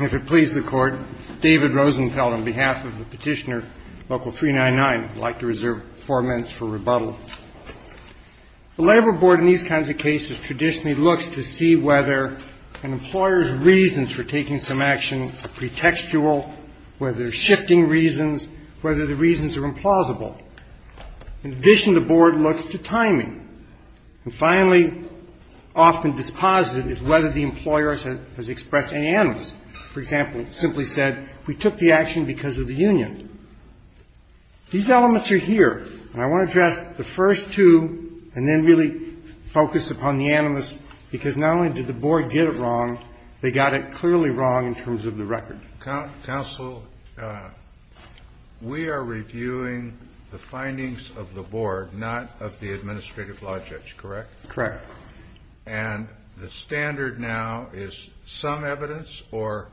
If it pleases the Court, David Rosenfeld on behalf of the petitioner Local 399 would like to reserve four minutes for rebuttal. The Labor Board in these kinds of cases traditionally looks to see whether an employer's reasons for taking some action are pretextual, whether they're shifting reasons, whether the reasons are implausible. In addition, the Board looks to timing. And finally, often disposited, is whether the employer has expressed any animus. For example, simply said, we took the action because of the union. These elements are here, and I want to address the first two and then really focus upon the animus, because not only did the Board get it wrong, they got it clearly wrong in terms of the record. Counsel, we are reviewing the findings of the Board, not of the administrative logics, correct? Correct. And the standard now is some evidence or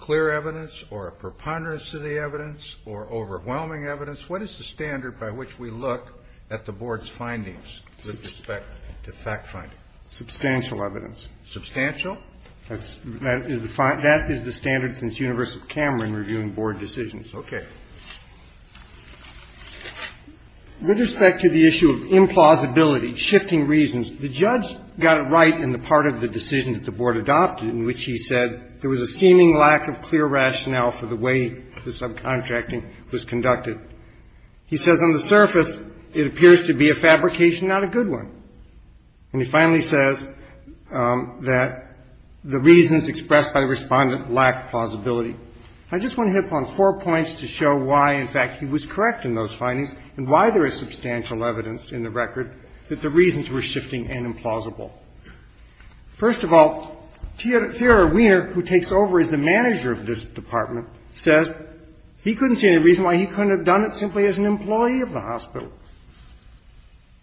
clear evidence or a preponderance of the evidence or overwhelming evidence. What is the standard by which we look at the Board's findings with respect to fact finding? Substantial evidence. Substantial? That is the standard since University of Cameron reviewing Board decisions. Okay. With respect to the issue of implausibility, shifting reasons, the judge got it right in the part of the decision that the Board adopted in which he said there was a seeming lack of clear rationale for the way the subcontracting was conducted. He says on the surface it appears to be a fabrication, not a good one. And he finally says that the reasons expressed by the Respondent lack plausibility. I just want to hit upon four points to show why, in fact, he was correct in those findings and why there is substantial evidence in the record that the reasons were shifting and implausible. First of all, Theodore Wiener, who takes over as the manager of this department, says he couldn't see any reason why he couldn't have done it simply as an employee of the hospital.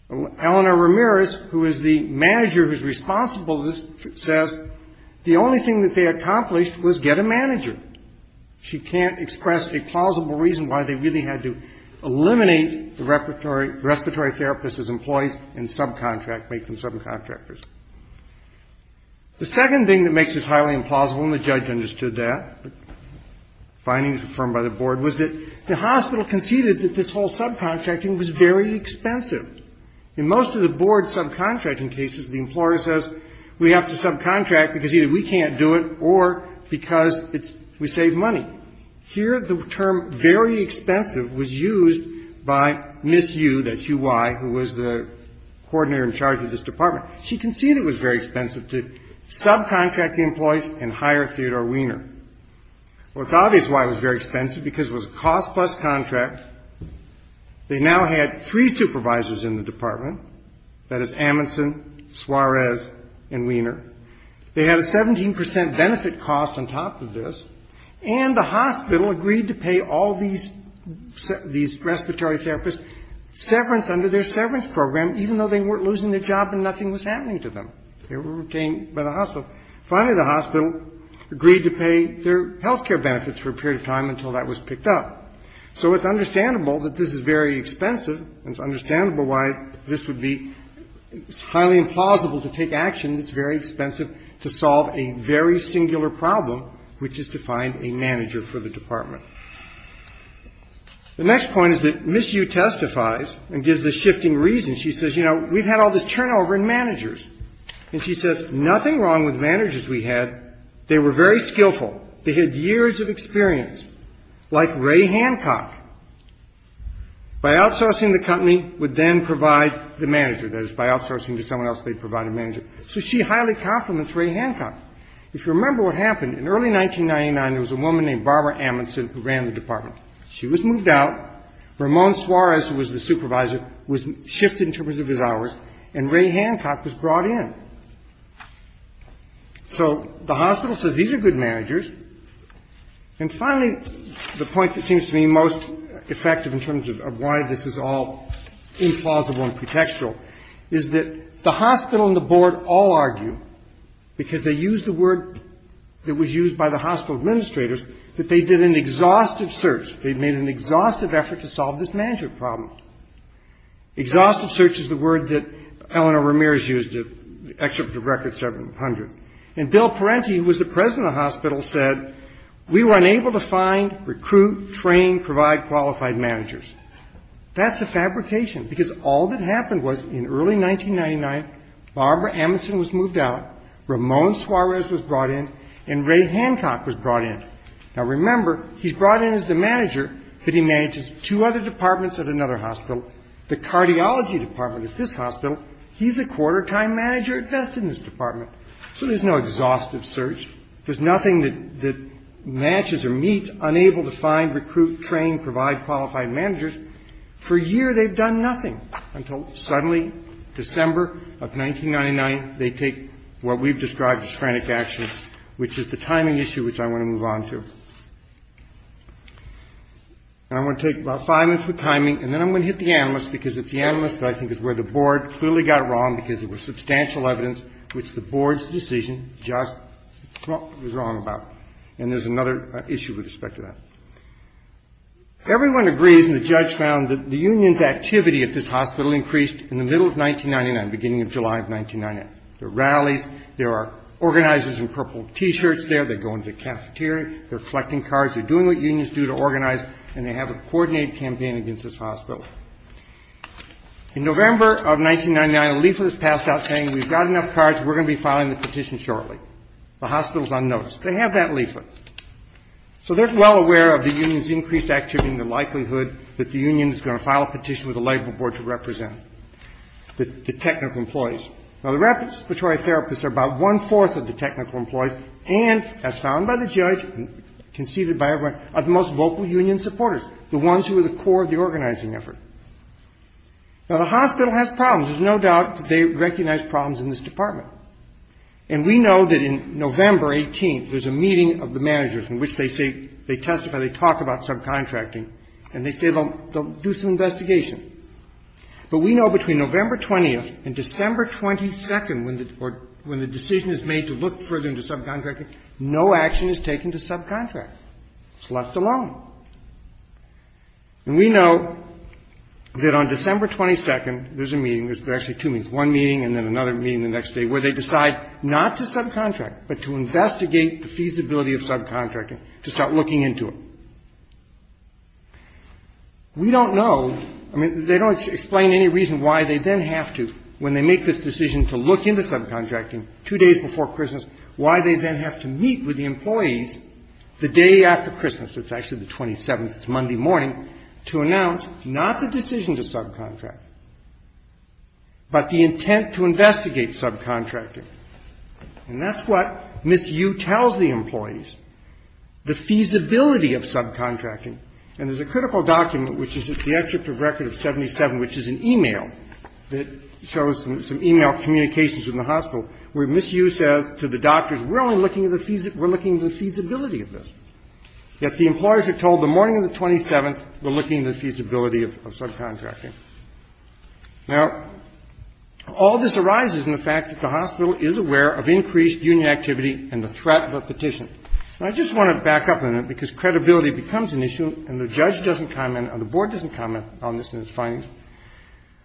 Eleanor Ramirez, who is the manager who is responsible, says the only thing that they accomplished was get a manager. She can't express a plausible reason why they really had to eliminate the respiratory therapist as employees and subcontract, make them subcontractors. The second thing that makes this highly implausible, and the judge understood that, findings confirmed by the Board, was that the hospital conceded that this whole subcontracting was very expensive. In most of the Board's subcontracting cases, the employer says we have to subcontract because either we can't do it or because it's we save money. Here the term very expensive was used by Ms. Yu, that's Yu, who was the coordinator in charge of this department. She conceded it was very expensive to subcontract the employees and hire Theodore Wiener. Well, it's obvious why it was very expensive, because it was a cost-plus contract. They now had three supervisors in the department, that is Amundsen, Suarez, and Wiener. They had a 17 percent benefit cost on top of this, and the hospital agreed to pay all these respiratory therapists severance under their severance program, even though they weren't losing their job and nothing was happening to them. They were retained by the hospital. Finally, the hospital agreed to pay their health care benefits for a period of time until that was picked up. So it's understandable that this is very expensive, and it's understandable why this would be highly implausible to take action. It's very expensive to solve a very singular problem, which is to find a manager for the department. The next point is that Ms. Yu testifies and gives the shifting reason. She says, you know, we've had all this turnover in managers. And she says, nothing wrong with managers we had. They were very skillful. They had years of experience, like Ray Hancock. By outsourcing the company would then provide the manager, that is, by outsourcing to someone else, they'd provide a manager. So she highly compliments Ray Hancock. If you remember what happened, in early 1999, there was a woman named Barbara Amundsen who ran the department. She was moved out. Ramon Suarez, who was the supervisor, was shifted in terms of his hours, and Ray Hancock was brought in. So the hospital says these are good managers. And finally, the point that seems to me most effective in terms of why this is all implausible and pretextual is that the hospital and the board all argue, because they use the word that was used by the hospital administrators, that they did an exhaustive search. They made an exhaustive effort to solve this manager problem. Exhaustive search is the word that Eleanor Ramirez used to excerpt the record 700. And Bill Parenti, who was the president of the hospital, said, we were unable to find, recruit, train, provide qualified managers. That's a fabrication, because all that happened was, in early 1999, Barbara Amundsen was moved out, Ramon Suarez was brought in, and Ray Hancock was brought in. Now, remember, he's brought in as the manager, but he manages two other departments at another hospital. The cardiology department at this hospital, he's a quarter-time manager at best in this department. So there's no exhaustive search. There's nothing that matches or meets unable to find, recruit, train, provide qualified managers. For a year, they've done nothing, until suddenly, December of 1999, they take what we've described as frantic action, which is the timing issue which I want to move on to. And I'm going to take about five minutes with timing, and then I'm going to hit the analyst, because it's the analyst that I think is where the board clearly got it wrong, because there was substantial evidence which the board's decision just was wrong about. And there's another issue with respect to that. Everyone agrees, and the judge found, that the union's activity at this hospital increased in the middle of 1999, beginning of July of 1999. There are rallies. There are organizers in purple T-shirts there. They go into the cafeteria. They're collecting cards. They're doing what unions do to organize, and they have a coordinated campaign against this hospital. In November of 1999, a leaflet is passed out saying, we've got enough cards. We're going to be filing the petition shortly. The hospital's on notice. They have that leaflet. So they're well aware of the union's increased activity and the likelihood that the union is going to file a petition with the labor board to represent the technical employees. Now, the respiratory therapists are about one-fourth of the technical employees, and, as found by the judge, conceded by everyone, are the most vocal union supporters, the ones who are the core of the organizing effort. Now, the hospital has problems. There's no doubt that they recognize problems in this department. And we know that in November 18th, there's a meeting of the managers in which they say they testify, they talk about subcontracting, and they say they'll do some investigation. But we know between November 20th and December 22nd, when the decision is made to look further into subcontracting, no action is taken to subcontract. It's left alone. And we know that on December 22nd, there's a meeting, there's actually two meetings, one meeting and then another meeting the next day, where they decide not to subcontract but to investigate the feasibility of subcontracting to start looking into it. We don't know, I mean, they don't explain any reason why they then have to, when they make this decision to look into subcontracting two days before Christmas, why they then have to meet with the employees the day after Christmas, it's actually the 27th, it's Monday morning, to announce not the decision to subcontract but the intent to investigate subcontracting. And that's what Ms. Yu tells the employees, the feasibility of subcontracting. And there's a critical document, which is at the exit of record of 77, which is an e-mail that shows some e-mail communications from the hospital, where Ms. Yu says to the doctors, we're only looking at the feasibility of this. Yet the employers are told the morning of the 27th, we're looking at the feasibility of subcontracting. Now, all this arises in the fact that the hospital is aware of increased union activity and the threat of a petition. Now, I just want to back up on that, because credibility becomes an issue, and the judge doesn't comment, and the board doesn't comment on this in its findings.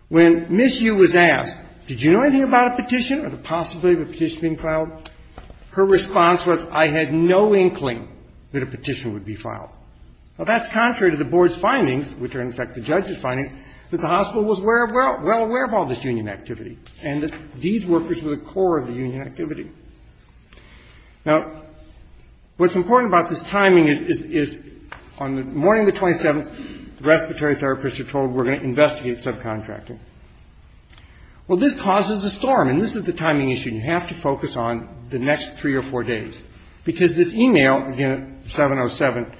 When Ms. Yu was asked, did you know anything about a petition or the possibility of a petition being filed, her response was, I had no inkling that a petition would be filed. Well, that's contrary to the board's findings, which are, in fact, the judge's findings, that the hospital was well aware of all this union activity and that these workers were the core of the union activity. Now, what's important about this timing is on the morning of the 27th, the respiratory therapists are told we're going to investigate subcontracting. Well, this causes a storm, and this is the timing issue. You have to focus on the next three or four days, because this e-mail, again, 707,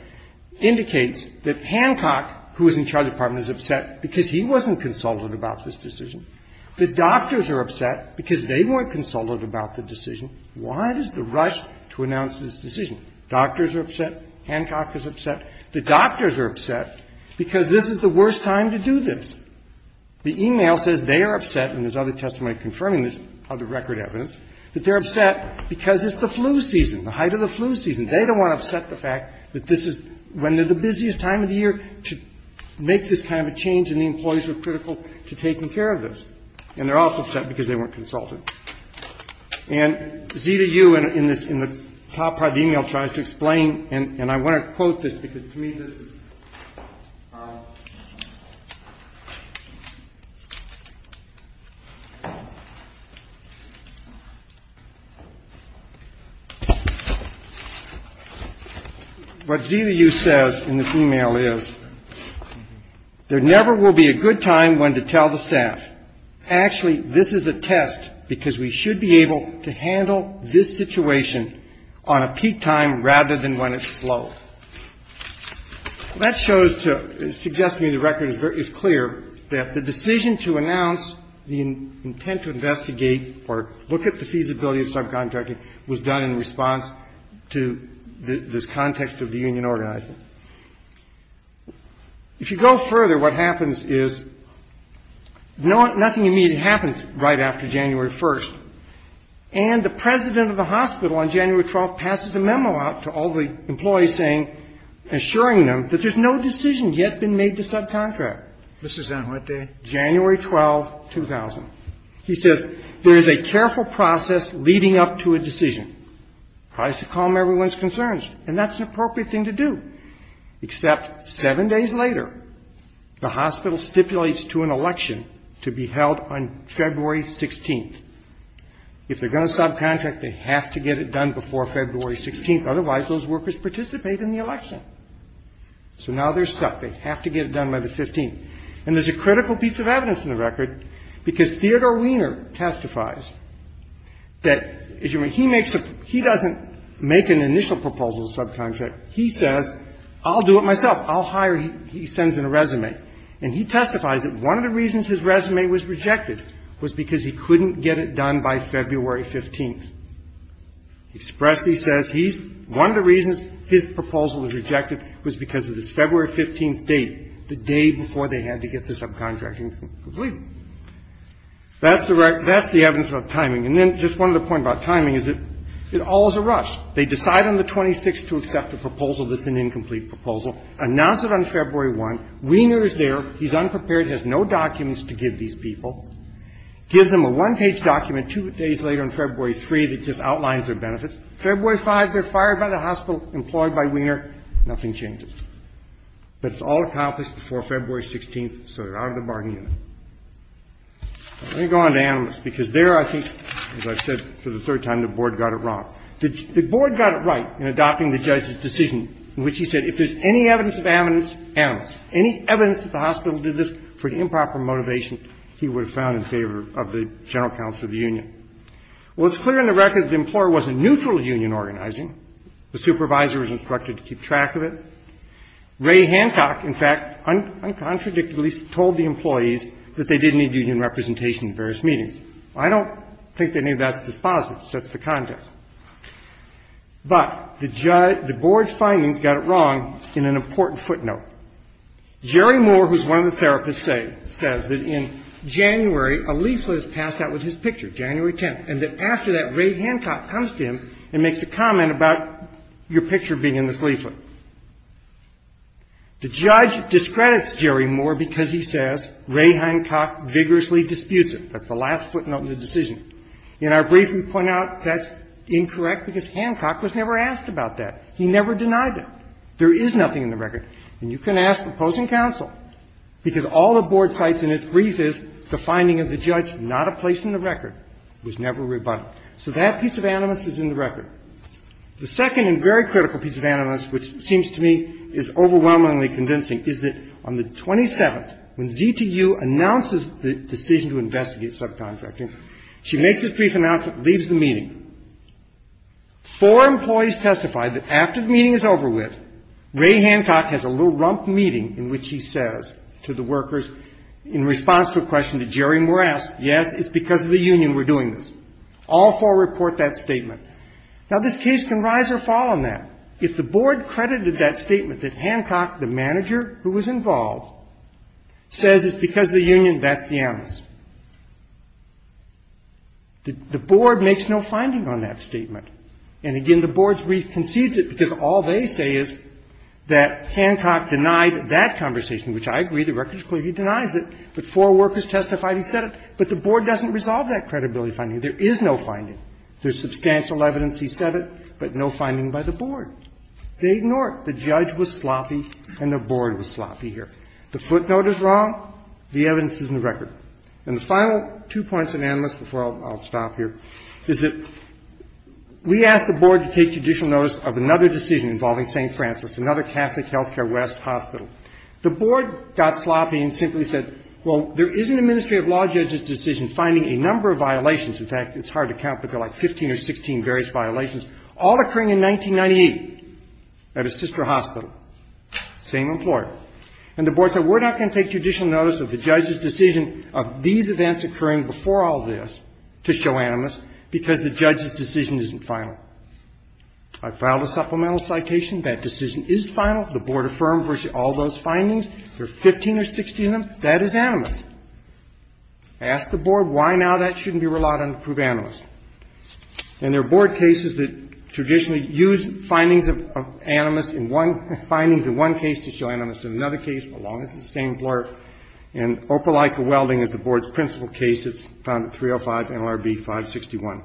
indicates that Hancock, who was in charge of the department, is upset because he wasn't consulted about this decision. The doctors are upset because they weren't consulted about the decision. Why is the rush to announce this decision? Doctors are upset. Hancock is upset. The doctors are upset because this is the worst time to do this. The e-mail says they are upset, and there's other testimony confirming this, other record evidence, that they're upset because it's the flu season, the height of the flu season. They don't want to upset the fact that this is when they're the busiest time of the year to make this kind of a change, and the employees are critical to taking care of this. And they're also upset because they weren't consulted. And ZDU, in the top part of the e-mail, tries to explain, and I want to quote this, what ZDU says in this e-mail is, there never will be a good time when to tell the staff, actually, this is a test, because we should be able to handle this situation on a peak time rather than when it's slow. That shows to suggest to me the record is clear that the decision to announce the intent to investigate or look at the feasibility of subcontracting was done in response to this context of the union organizing. If you go further, what happens is nothing immediate happens right after January 1st, and the employees saying, assuring them that there's no decision yet been made to subcontract. This is on what day? January 12, 2000. He says there is a careful process leading up to a decision. Tries to calm everyone's concerns, and that's an appropriate thing to do, except seven days later, the hospital stipulates to an election to be held on February 16th. If they're going to subcontract, they have to get it done before February 16th, otherwise those workers participate in the election. So now they're stuck. They have to get it done by the 15th. And there's a critical piece of evidence in the record, because Theodore Wiener testifies that he doesn't make an initial proposal to subcontract. He says, I'll do it myself. I'll hire him. He sends in a resume. And he testifies that one of the reasons his resume was rejected was because he couldn't get it done by February 15th. He expressly says he's one of the reasons his proposal was rejected was because of this February 15th date, the day before they had to get this subcontracting thing completed. That's the evidence of timing. And then just one other point about timing is that it all is a rush. They decide on the 26th to accept a proposal that's an incomplete proposal, announce it on February 1. Wiener is there. He's unprepared. He has no documents to give these people. Gives them a one-page document two days later on February 3 that just outlines their benefits. February 5, they're fired by the hospital, employed by Wiener. Nothing changes. But it's all accomplished before February 16th, so they're out of the bargaining unit. Let me go on to Amnesty, because there I think, as I said for the third time, the Board got it wrong. The Board got it right in adopting the judge's decision in which he said if there's any evidence of amnesty, announce. Any evidence that the hospital did this for the improper motivation he would have found in favor of the general counsel of the union. Well, it's clear in the record that the employer wasn't neutral to union organizing. The supervisor was instructed to keep track of it. Ray Hancock, in fact, uncontradictorily told the employees that they didn't need union representation at various meetings. I don't think any of that's dispositive. It sets the context. But the Board's findings got it wrong in an important footnote. Jerry Moore, who's one of the therapists, says that in January, a leaflet is passed out with his picture, January 10th, and that after that, Ray Hancock comes to him and makes a comment about your picture being in this leaflet. The judge discredits Jerry Moore because he says Ray Hancock vigorously disputes it. That's the last footnote in the decision. In our brief, we point out that's incorrect because Hancock was never asked about that. He never denied it. There is nothing in the record. And you can ask opposing counsel, because all the Board cites in its brief is the finding of the judge, not a place in the record, was never rebutted. So that piece of animus is in the record. The second and very critical piece of animus, which seems to me is overwhelmingly convincing, is that on the 27th, when ZTU announces the decision to investigate subcontracting, she makes a brief announcement, leaves the meeting. Four employees testify that after the meeting is over with, Ray Hancock has a little rump meeting in which he says to the workers in response to a question that Jerry Moore asked, yes, it's because of the union we're doing this. All four report that statement. Now, this case can rise or fall on that. If the Board credited that statement that Hancock, the manager who was involved, says it's because of the union, that's the animus. The Board makes no finding on that statement. And again, the Board's brief concedes it because all they say is that Hancock denied that conversation, which I agree. The record clearly denies it. But four workers testified he said it. But the Board doesn't resolve that credibility finding. There is no finding. There's substantial evidence he said it, but no finding by the Board. They ignore it. The judge was sloppy and the Board was sloppy here. The footnote is wrong. The evidence is in the record. And the final two points of animus before I'll stop here is that we asked the Board to take judicial notice of another decision involving St. Francis, another Catholic Healthcare West hospital. The Board got sloppy and simply said, well, there is an administrative law judge's decision finding a number of violations. In fact, it's hard to count, but there are like 15 or 16 various violations, all occurring in 1998 at a sister hospital, same employer. And the Board said we're not going to take judicial notice of the judge's decision of these events occurring before all this to show animus because the judge's decision isn't final. I filed a supplemental citation. That decision is final. The Board affirmed all those findings. There are 15 or 16 of them. That is animus. I asked the Board why now that shouldn't be relied on to prove animus. And there are Board cases that traditionally use findings of animus in one findings in one case to show animus in another case, as long as it's the same employer. And Opelika Welding is the Board's principal case. It's found at 305 NLRB 561.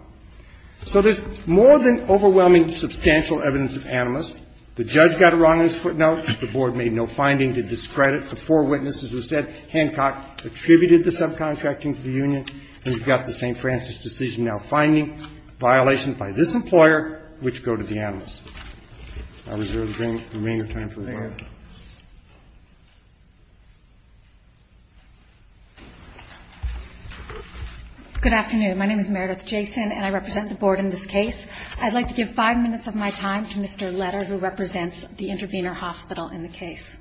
So there's more than overwhelming substantial evidence of animus. The judge got it wrong on his footnote. The Board made no finding to discredit. The four witnesses who said Hancock attributed the subcontracting to the union. And we've got the St. Francis decision now finding violations by this employer which go to the animus. I reserve the remaining time for the Board. Thank you. Good afternoon. My name is Meredith Jason, and I represent the Board in this case. I'd like to give five minutes of my time to Mr. Letter, who represents the intervener hospital in the case.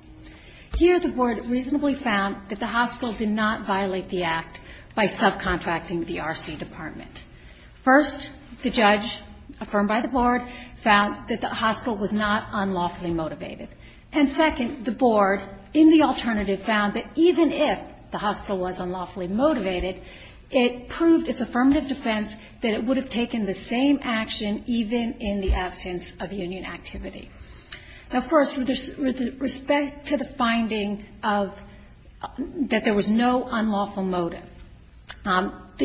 Here the Board reasonably found that the hospital did not violate the act by subcontracting the R.C. Department. First, the judge, affirmed by the Board, found that the hospital was not unlawfully motivated. And second, the Board, in the alternative, found that even if the hospital was unlawfully motivated, it proved its affirmative defense that it would have taken the same action even in the absence of union activity. Now, first, with respect to the finding of that there was no unlawful motive, the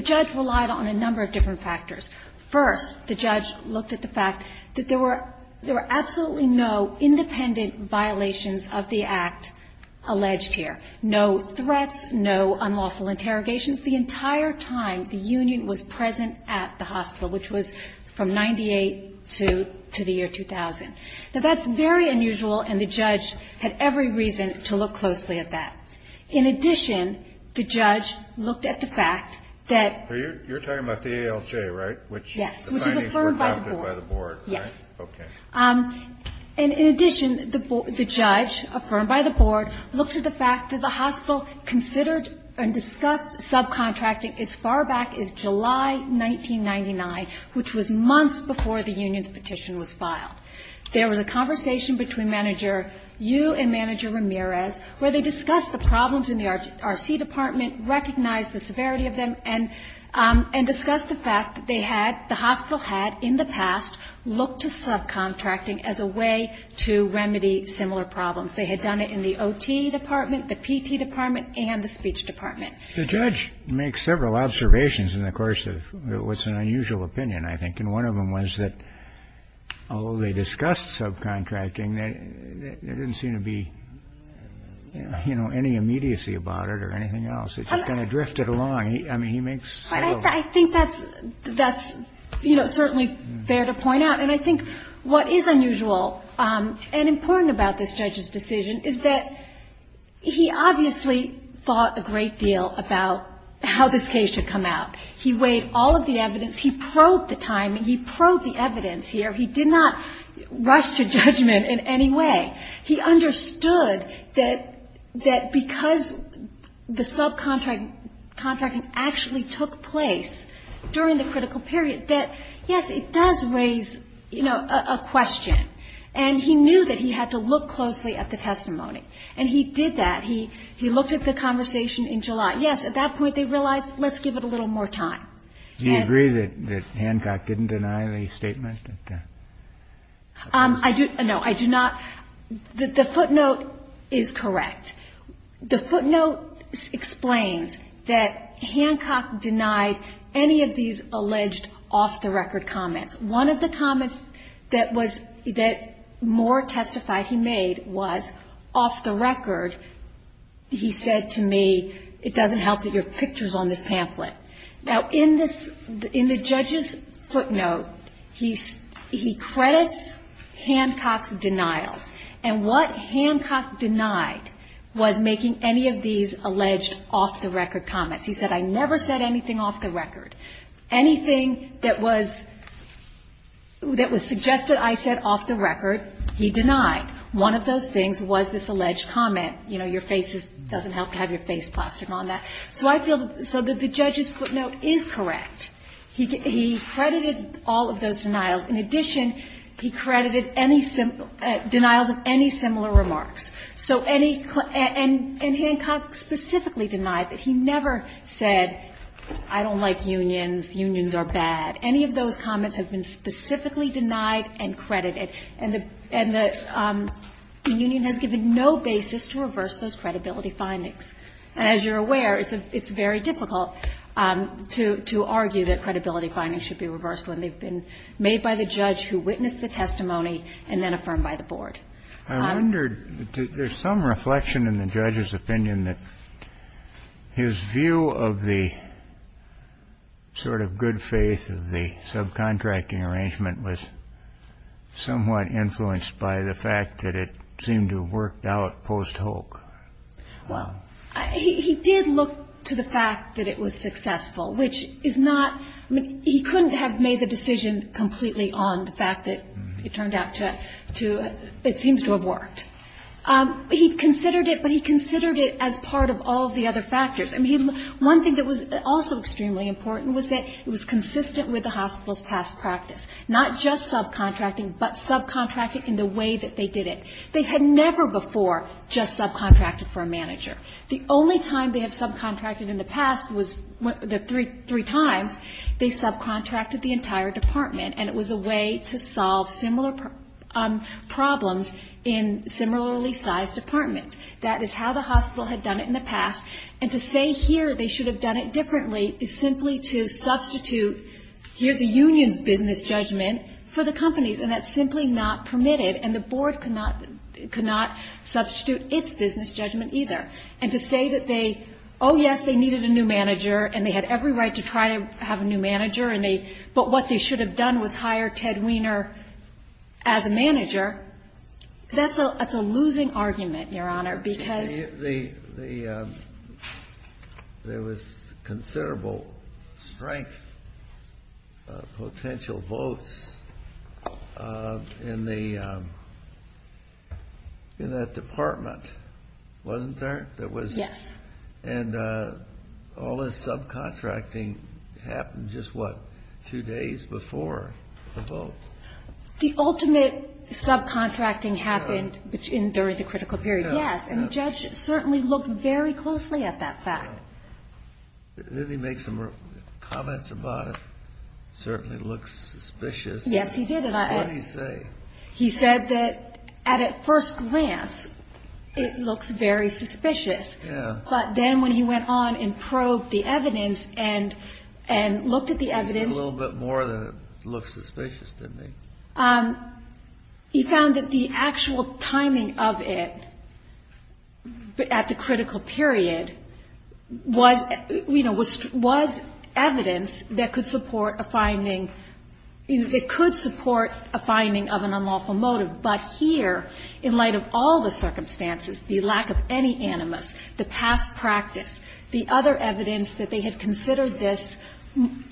First, the judge looked at the fact that there were absolutely no independent violations of the act alleged here. No threats, no unlawful interrogations. The entire time, the union was present at the hospital, which was from 1998 to the year 2000. Now, that's very unusual, and the judge had every reason to look closely at that. In addition, the judge looked at the fact that You're talking about the ALJ, right? Yes. Which is affirmed by the Board. Yes. Okay. And in addition, the judge, affirmed by the Board, looked at the fact that the hospital considered and discussed subcontracting as far back as July 1999, which was months before the union's petition was filed. There was a conversation between Manager Yu and Manager Ramirez where they discussed the problems in the RC department, recognized the severity of them, and discussed the fact that they had, the hospital had in the past, looked to subcontracting as a way to remedy similar problems. They had done it in the OT department, the PT department, and the speech department. The judge makes several observations in the course of what's an unusual opinion, I think, and one of them was that although they discussed subcontracting, there didn't seem to be, you know, any immediacy about it or anything else. It just kind of drifted along. I mean, he makes several. I think that's, you know, certainly fair to point out. And I think what is unusual and important about this judge's decision is that he obviously thought a great deal about how this case should come out. He weighed all of the evidence. He probed the timing. He probed the evidence here. He did not rush to judgment in any way. He understood that because the subcontracting actually took place during the critical period, that, yes, it does raise, you know, a question. And he knew that he had to look closely at the testimony. And he did that. He looked at the conversation in July. Yes, at that point they realized, let's give it a little more time. Do you agree that Hancock didn't deny any statement? I do. No, I do not. The footnote is correct. The footnote explains that Hancock denied any of these alleged off-the-record comments. One of the comments that was, that Moore testified he made was, off the record, he said to me, it doesn't help that you have pictures on this pamphlet. Now, in the judge's footnote, he credits Hancock's denials. And what Hancock denied was making any of these alleged off-the-record comments. He said, I never said anything off the record. Anything that was suggested I said off the record, he denied. One of those things was this alleged comment, you know, your face doesn't help to have your face plastered on that. So I feel, so the judge's footnote is correct. He credited all of those denials. In addition, he credited any denials of any similar remarks. So any, and Hancock specifically denied that he never said, I don't like unions, unions are bad. Any of those comments have been specifically denied and credited. And the union has given no basis to reverse those credibility findings. And as you're aware, it's very difficult to argue that credibility findings should be reversed when they've been made by the judge who witnessed the testimony and then affirmed by the board. I wondered, there's some reflection in the judge's opinion that his view of the sort of good faith of the subcontracting arrangement was somewhat influenced by the fact that it seemed to have worked out post-Holk. Well, he did look to the fact that it was successful, which is not, he couldn't have made the decision completely on the fact that it turned out to, it seems to have worked. He considered it, but he considered it as part of all of the other factors. I mean, one thing that was also extremely important was that it was consistent with the hospital's past practice, not just subcontracting, but subcontracting in the way that they did it. They had never before just subcontracted for a manager. The only time they have subcontracted in the past was the three times they subcontracted the entire department, and it was a way to solve similar problems in similarly sized departments. That is how the hospital had done it in the past, and to say here they should have done it differently is simply to substitute here the union's business judgment for the company's, and that's simply not permitted, and the Board could not, could not substitute its business judgment either. And to say that they, oh, yes, they needed a new manager, and they had every right to try to have a new manager, and they, but what they should have done was hire Ted Weiner as a manager, that's a losing argument, Your Honor, because. There was considerable strength, potential votes in the, in that department, wasn't there? Yes. And all this subcontracting happened just, what, two days before the vote? The ultimate subcontracting happened during the critical period, yes, and the judge certainly looked very closely at that fact. Didn't he make some comments about it? It certainly looks suspicious. Yes, he did. What did he say? He said that at first glance it looks very suspicious. Yeah. But then when he went on and probed the evidence and, and looked at the evidence. He said a little bit more than it looks suspicious, didn't he? He found that the actual timing of it at the critical period was, you know, was evidence that could support a finding, it could support a finding of an unlawful motive. But here, in light of all the circumstances, the lack of any animus, the past practice, the other evidence that they had considered this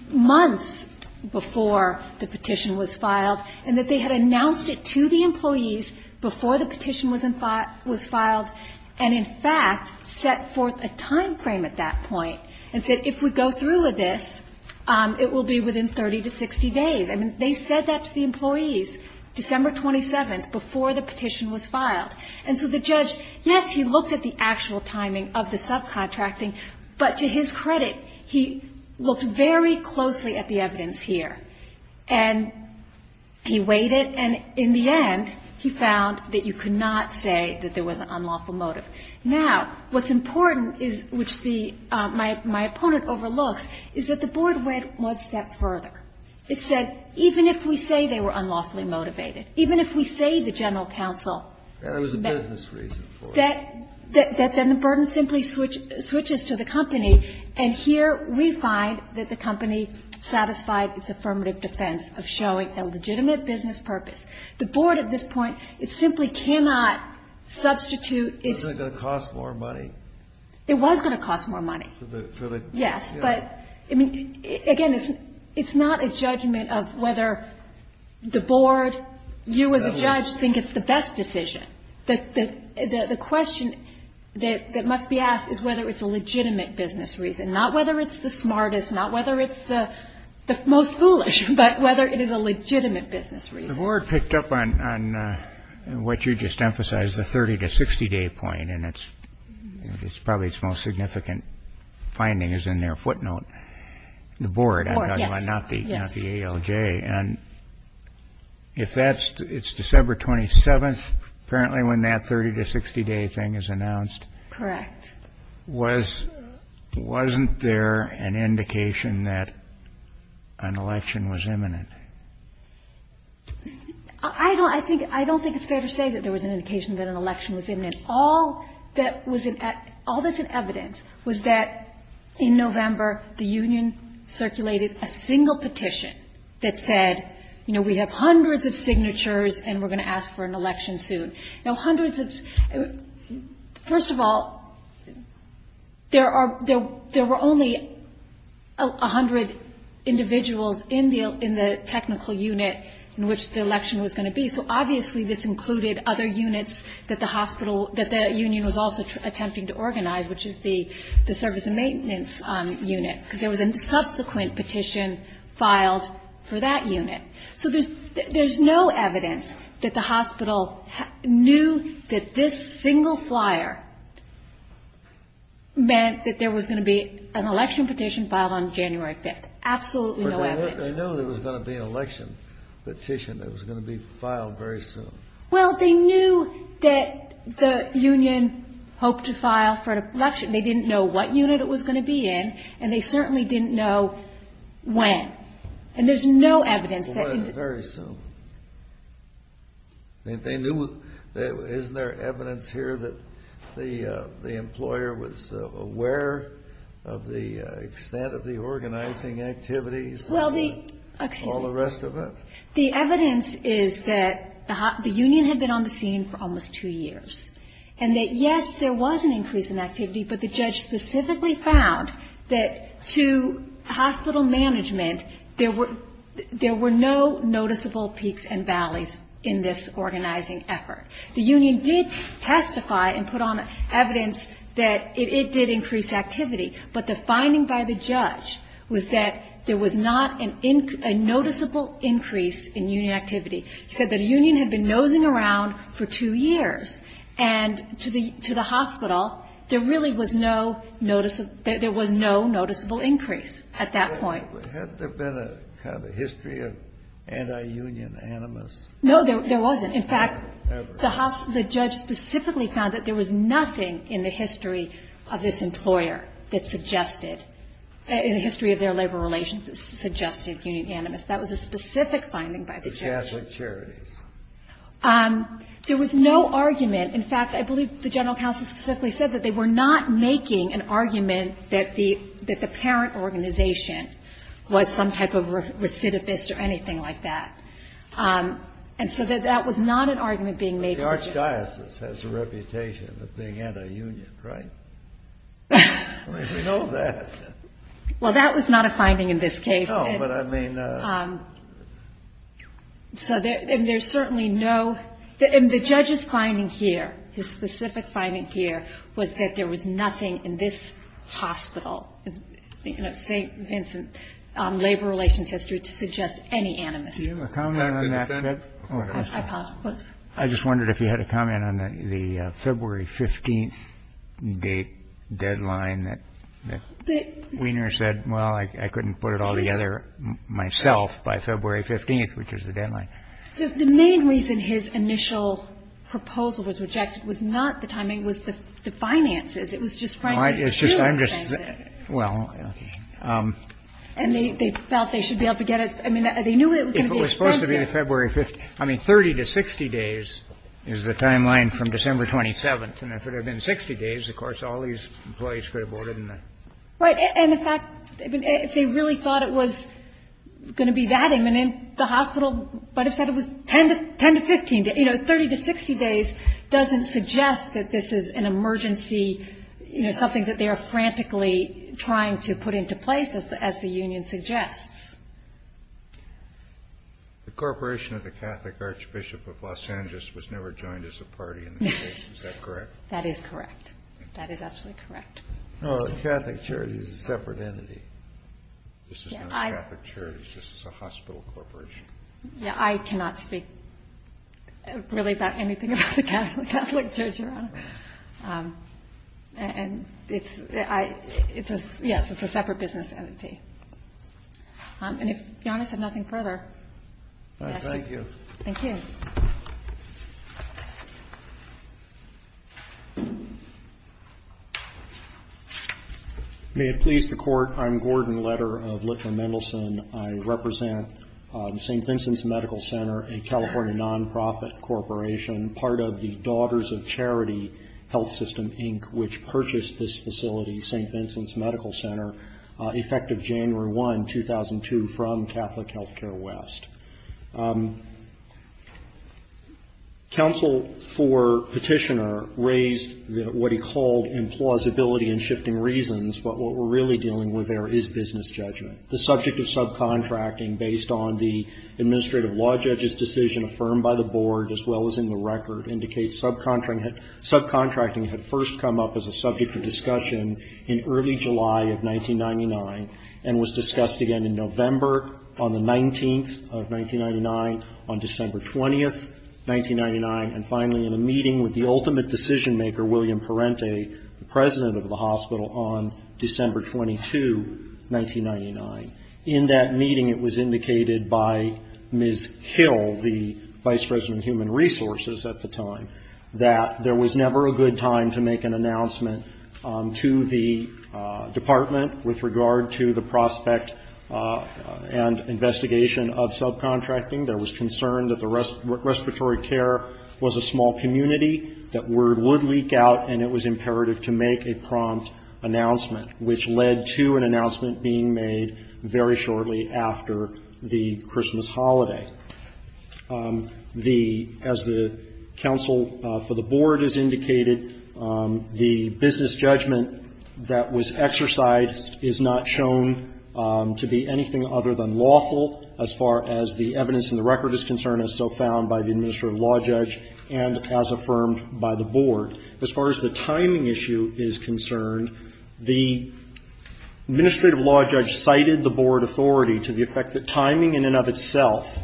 months before the petition was filed and that they had announced it to the employees before the petition was filed and, in fact, set forth a time frame at that point and said if we go through with this, it will be within 30 to 60 days. I mean, they said that to the employees December 27th before the petition was filed. And so the judge, yes, he looked at the actual timing of the subcontracting. But to his credit, he looked very closely at the evidence here. And he weighed it. And in the end, he found that you could not say that there was an unlawful motive. Now, what's important, which my opponent overlooks, is that the board went one step further. It said even if we say they were unlawfully motivated, even if we say the general counsel thought that there was a business reason for it. That then the burden simply switches to the company. And here we find that the company satisfied its affirmative defense of showing a legitimate business purpose. The board at this point, it simply cannot substitute its It wasn't going to cost more money. It was going to cost more money. Yes. But, I mean, again, it's not a judgment of whether the board, you as a judge, think it's the best decision. The question that must be asked is whether it's a legitimate business reason, not whether it's the smartest, not whether it's the most foolish, but whether it is a legitimate business reason. The board picked up on what you just emphasized, the 30- to 60-day point. And it's probably its most significant finding is in their footnote, the board, not the ALJ. And if that's, it's December 27th, apparently when that 30- to 60-day thing is announced. Correct. Was, wasn't there an indication that an election was imminent? I don't, I think, I don't think it's fair to say that there was an indication that an election was imminent. All that was, all that's in evidence was that in November, the union circulated a single petition that said, you know, we have hundreds of signatures and we're going to ask for an election soon. Now, hundreds of, first of all, there are, there were only 100 individuals in the, in the technical unit in which the election was going to be. So, obviously, this included other units that the hospital, that the union was also attempting to organize, which is the service and maintenance unit. Because there was a subsequent petition filed for that unit. So there's no evidence that the hospital knew that this single flyer meant that there was going to be an election petition filed on January 5th. Absolutely no evidence. But they knew there was going to be an election petition that was going to be filed very soon. Well, they knew that the union hoped to file for an election. They didn't know what unit it was going to be in. And they certainly didn't know when. And there's no evidence that. Very soon. And they knew, isn't there evidence here that the employer was aware of the extent of the organizing activities? Well, the, excuse me. All the rest of it? The evidence is that the union had been on the scene for almost two years. And that, yes, there was an increase in activity. But the judge specifically found that to hospital management, there were no noticeable peaks and valleys in this organizing effort. The union did testify and put on evidence that it did increase activity. But the finding by the judge was that there was not a noticeable increase in union activity. He said that a union had been nosing around for two years. And to the hospital, there really was no notice of – there was no noticeable increase at that point. Had there been a kind of history of anti-union animus? No, there wasn't. In fact, the judge specifically found that there was nothing in the history of this employer that suggested – in the history of their labor relations that suggested union animus. That was a specific finding by the judge. The Catholic Charities. There was no argument. In fact, I believe the general counsel specifically said that they were not making an argument that the parent organization was some type of recidivist or anything like that. And so that was not an argument being made. The archdiocese has a reputation of being anti-union, right? I mean, we know that. Well, that was not a finding in this case. No, but I mean – So there's certainly no – the judge's finding here, his specific finding here, was that there was nothing in this hospital, St. Vincent Labor Relations History, to suggest any animus. Do you have a comment on that? I just wondered if you had a comment on the February 15th deadline that Wiener said, well, I couldn't put it all together myself by February 15th, which was the deadline. The main reason his initial proposal was rejected was not the timing. It was the finances. It was just frankly too expensive. Well, okay. And they felt they should be able to get it. I mean, they knew it was going to be expensive. It has to be the February 15th. I mean, 30 to 60 days is the timeline from December 27th. And if it had been 60 days, of course, all these employees could have boarded in there. Right. And the fact – if they really thought it was going to be that imminent, the hospital might have said it was 10 to 15 days. You know, 30 to 60 days doesn't suggest that this is an emergency, you know, something that they are frantically trying to put into place, as the union suggests. The Corporation of the Catholic Archbishop of Los Angeles was never joined as a party in this case. Is that correct? That is correct. That is absolutely correct. Oh, the Catholic Charities is a separate entity. This is not the Catholic Charities. This is a hospital corporation. Yeah, I cannot speak really about anything about the Catholic Church, Your Honor. And it's – yes, it's a separate business entity. And if Your Honor said nothing further, yes. Thank you. Thank you. May it please the Court, I'm Gordon Letter of Litman Mendelson. I represent St. Vincent's Medical Center, a California nonprofit corporation, part of the Daughters of Charity Health System, Inc., which purchased this facility, the St. Vincent's Medical Center, effective January 1, 2002, from Catholic Healthcare West. Counsel for Petitioner raised what he called implausibility and shifting reasons, but what we're really dealing with there is business judgment. The subject of subcontracting, based on the administrative law judge's decision affirmed by the board, as well as in the record, indicates subcontracting had first come up as a subject of discussion in early July of 1999 and was discussed again in November on the 19th of 1999, on December 20th, 1999, and finally in a meeting with the ultimate decision-maker, William Parente, the president of the hospital, on December 22, 1999. In that meeting, it was indicated by Ms. Hill, the vice president of human resources at the time, that there was never a good time to make an announcement to the department with regard to the prospect and investigation of subcontracting. There was concern that the respiratory care was a small community, that word would leak out, and it was imperative to make a prompt announcement, which led to an announcement being made very shortly after the Christmas holiday. The — as the counsel for the board has indicated, the business judgment that was exercised is not shown to be anything other than lawful as far as the evidence in the record is concerned, as so found by the administrative law judge and as affirmed by the board. As far as the timing issue is concerned, the administrative law judge cited the board authority to the effect that timing in and of itself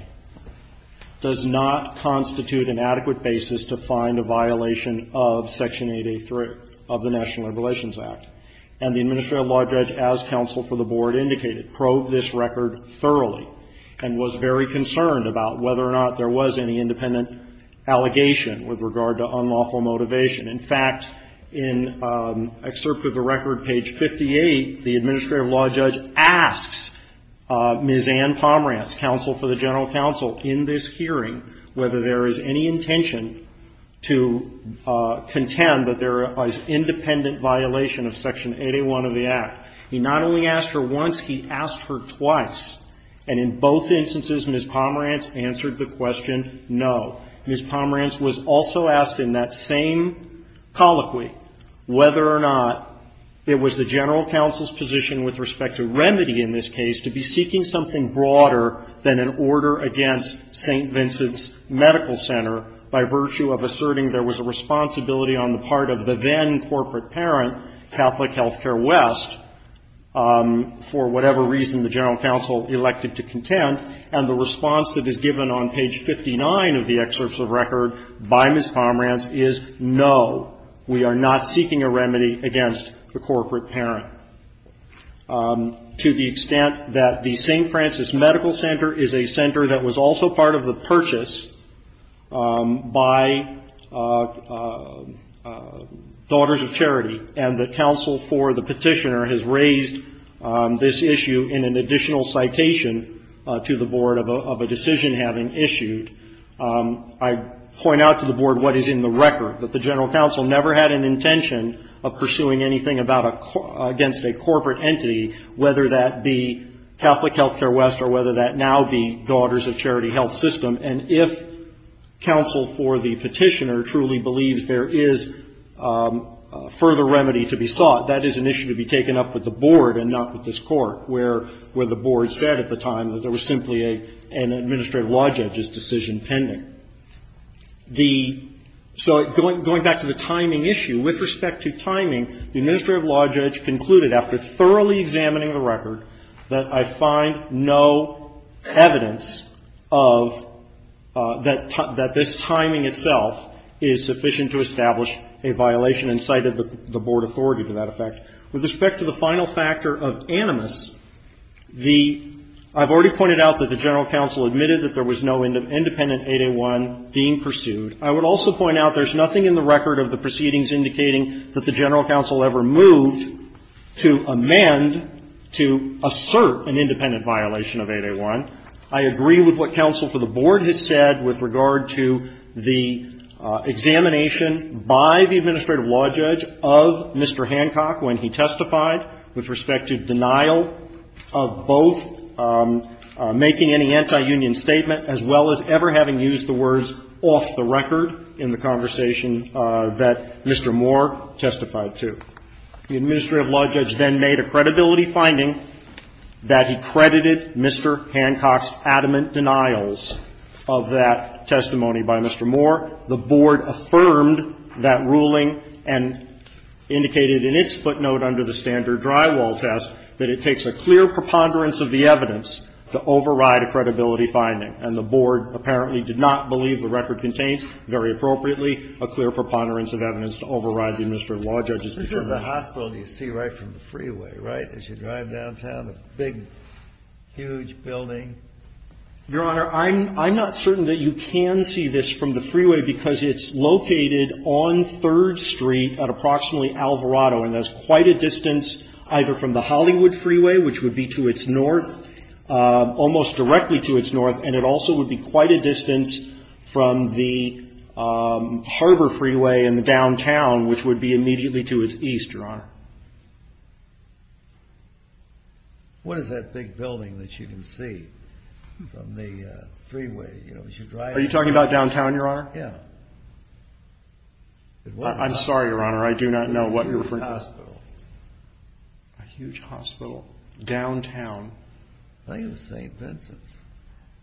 does not constitute an adequate basis to find a violation of Section 883 of the National Labor Relations Act. And the administrative law judge, as counsel for the board indicated, probed this record thoroughly and was very concerned about whether or not there was any independent allegation with regard to unlawful motivation. In fact, in excerpt of the record, page 58, the administrative law judge asks Ms. Ann Pomerantz, counsel for the general counsel, in this hearing whether there is any intention to contend that there is independent violation of Section 801 of the Act. He not only asked her once, he asked her twice. And in both instances, Ms. Pomerantz answered the question no. Ms. Pomerantz was also asked in that same colloquy whether or not it was the general counsel's position with respect to remedy in this case to be seeking something broader than an order against St. Vincent's Medical Center by virtue of asserting there was a responsibility on the part of the then-corporate parent, Catholic Healthcare West, for whatever reason the general counsel elected to contend. And the response that is given on page 59 of the excerpts of record by Ms. Pomerantz is no, we are not seeking a remedy against the corporate parent, to the extent that the St. Francis Medical Center is a center that was also part of the purchase by Daughters of Charity, and the counsel for the petitioner has raised this issue in an additional citation to the Board of a decision having issued. I point out to the Board what is in the record, that the general counsel never had an intention of pursuing anything against a corporate entity, whether that be Catholic Healthcare West, or the St. Francis Medical Center. If counsel for the petitioner truly believes there is further remedy to be sought, that is an issue to be taken up with the Board and not with this Court, where the Board said at the time that there was simply an administrative law judge's decision pending. So going back to the timing issue, with respect to timing, the administrative law judge concluded after thoroughly examining the record that I find no evidence of that this timing itself is sufficient to establish a violation and cited the Board authority to that effect. With respect to the final factor of animus, the — I've already pointed out that the general counsel admitted that there was no independent 8A1 being pursued. I would also point out there's nothing in the record of the proceedings indicating that the general counsel ever moved to amend, to assert an independent violation of 8A1. I agree with what counsel for the Board has said with regard to the examination by the administrative law judge of Mr. Hancock when he testified with respect to denial of both making any anti-union statement as well as ever having used the record in the conversation that Mr. Moore testified to. The administrative law judge then made a credibility finding that he credited Mr. Hancock's adamant denials of that testimony by Mr. Moore. The Board affirmed that ruling and indicated in its footnote under the standard drywall test that it takes a clear preponderance of the evidence to override a credibility finding, and the Board apparently did not believe the record contains very appropriately a clear preponderance of evidence to override the administrative law judge's determination. Kennedy. This is the hospital you see right from the freeway, right, as you drive downtown, a big, huge building. Your Honor, I'm not certain that you can see this from the freeway because it's located on 3rd Street at approximately Alvarado, and that's quite a distance either from the Hollywood Freeway, which would be to its north, almost directly to its north, and it also would be quite a distance from the Harbor Freeway in the downtown, which would be immediately to its east, Your Honor. What is that big building that you can see from the freeway? Are you talking about downtown, Your Honor? Yeah. I'm sorry, Your Honor, I do not know what you're referring to. A huge hospital. A huge hospital downtown. I think it was St. Vincent's.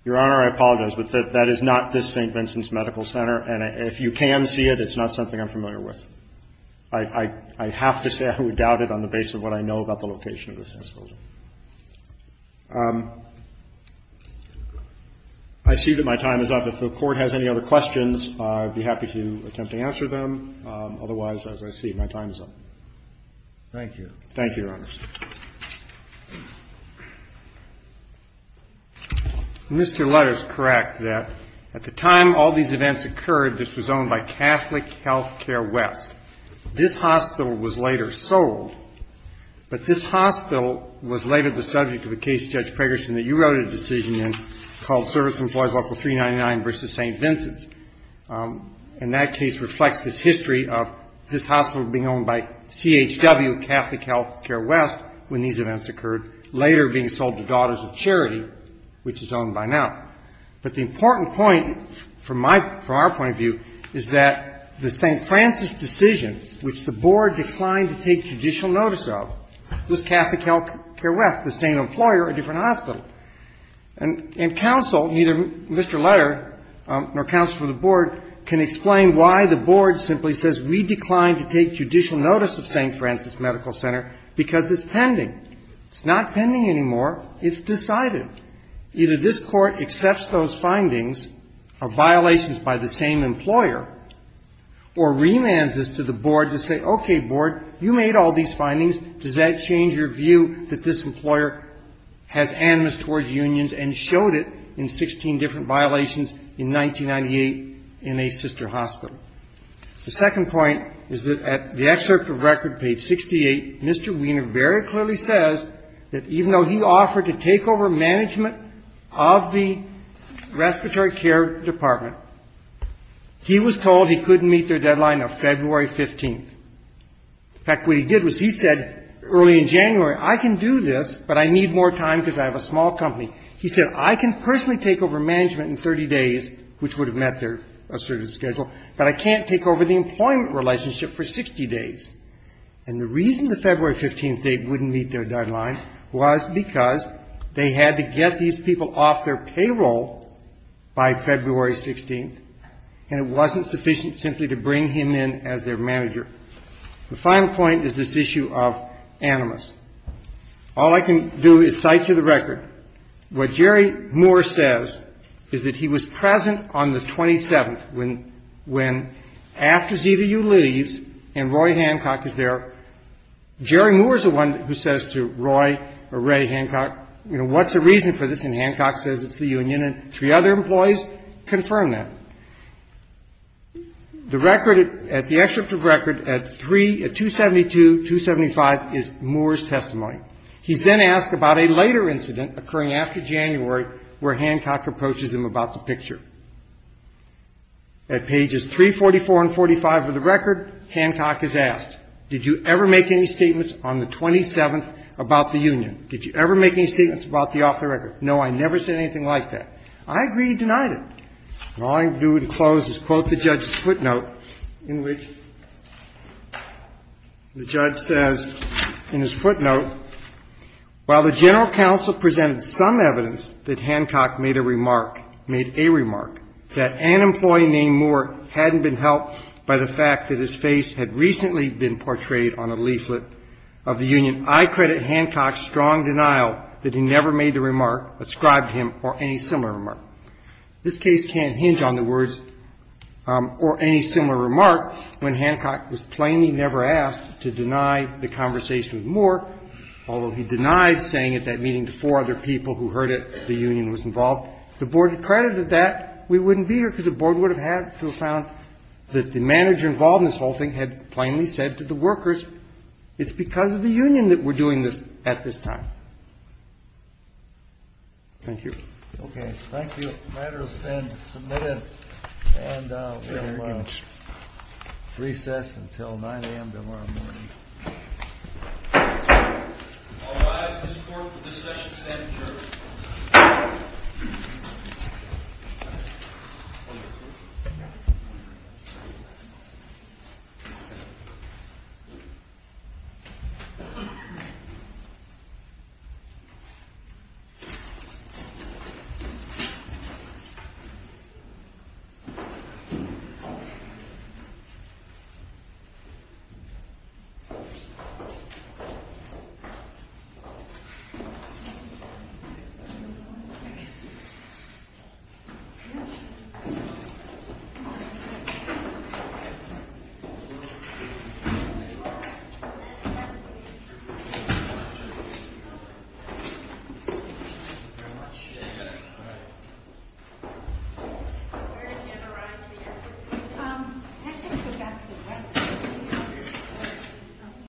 Your Honor, I apologize, but that is not this St. Vincent's Medical Center, and if you can see it, it's not something I'm familiar with. I have to say I would doubt it on the basis of what I know about the location of this hospital. I see that my time is up. If the Court has any other questions, I'd be happy to attempt to answer them. Otherwise, as I see it, my time is up. Thank you. Thank you, Your Honor. Mr. Lutter is correct that at the time all these events occurred, this was owned by Catholic Healthcare West. This hospital was later sold, but this hospital was later the subject of a case, Judge Pragerson, that you wrote a decision in called Service Employees, Article 399 v. St. Vincent's. And that case reflects this history of this hospital being owned by CHW, Catholic Healthcare West, when these events occurred, later being sold to Daughters of Charity, which is owned by now. But the important point from our point of view is that the St. Francis decision, which the Board declined to take judicial notice of, was Catholic Healthcare West, the same employer, a different hospital. And counsel, neither Mr. Lutter nor counsel from the Board, can explain why the Board simply says we declined to take judicial notice of St. Francis Medical Center because it's pending. It's not pending anymore. It's decided. Either this Court accepts those findings of violations by the same employer or remands us to the Board to say, okay, Board, you made all these findings. Does that change your view that this employer has animus towards unions and showed it in 16 different violations in 1998 in a sister hospital? The second point is that at the excerpt of record, page 68, Mr. Wiener very clearly says that even though he offered to take over management of the respiratory care department, he was told he couldn't meet their deadline of February 15th. In fact, what he did was he said early in January, I can do this, but I need more time because I have a small company. He said, I can personally take over management in 30 days, which would have met their assertive schedule, but I can't take over the employment relationship for 60 days. And the reason the February 15th date wouldn't meet their deadline was because they had to get these people off their payroll by February 16th, and it wasn't sufficient simply to bring him in as their manager. The final point is this issue of animus. All I can do is cite to the record what Jerry Moore says is that he was present on the 27th, when after ZVU leaves and Roy Hancock is there, Jerry Moore is the one who says to Roy or Ray Hancock, you know, what's the reason for this? And Hancock says it's the union, and three other employees confirm that. The record at the excerpt of record at 3, at 272, 275 is Moore's testimony. He's then asked about a later incident occurring after January where Hancock approaches him about the picture. At pages 344 and 45 of the record, Hancock is asked, did you ever make any statements on the 27th about the union? Did you ever make any statements about the off the record? No, I never said anything like that. I agree he denied it. And all I can do to close is quote the judge's footnote, in which the judge says in his footnote, while the general counsel presented some evidence that Hancock made a remark, made a remark, that an employee named Moore hadn't been helped by the fact that his face had recently been portrayed on a leaflet of the union, I credit Hancock's strong denial that he never made the remark, ascribed him, or any similar remark. This case can't hinge on the words or any similar remark when Hancock was plainly never asked to deny the conversation with Moore, although he denied saying at that meeting to four other people who heard it the union was involved. If the Board had credited that, we wouldn't be here, because the Board would have had to have found that the manager involved in this whole thing had plainly said to the workers, it's because of the union that we're doing this at this time. Thank you. Okay, thank you. The matter is then submitted and we'll recess until 9 a.m. tomorrow morning. All rise. This court will recess and stand adjourned. Thank you.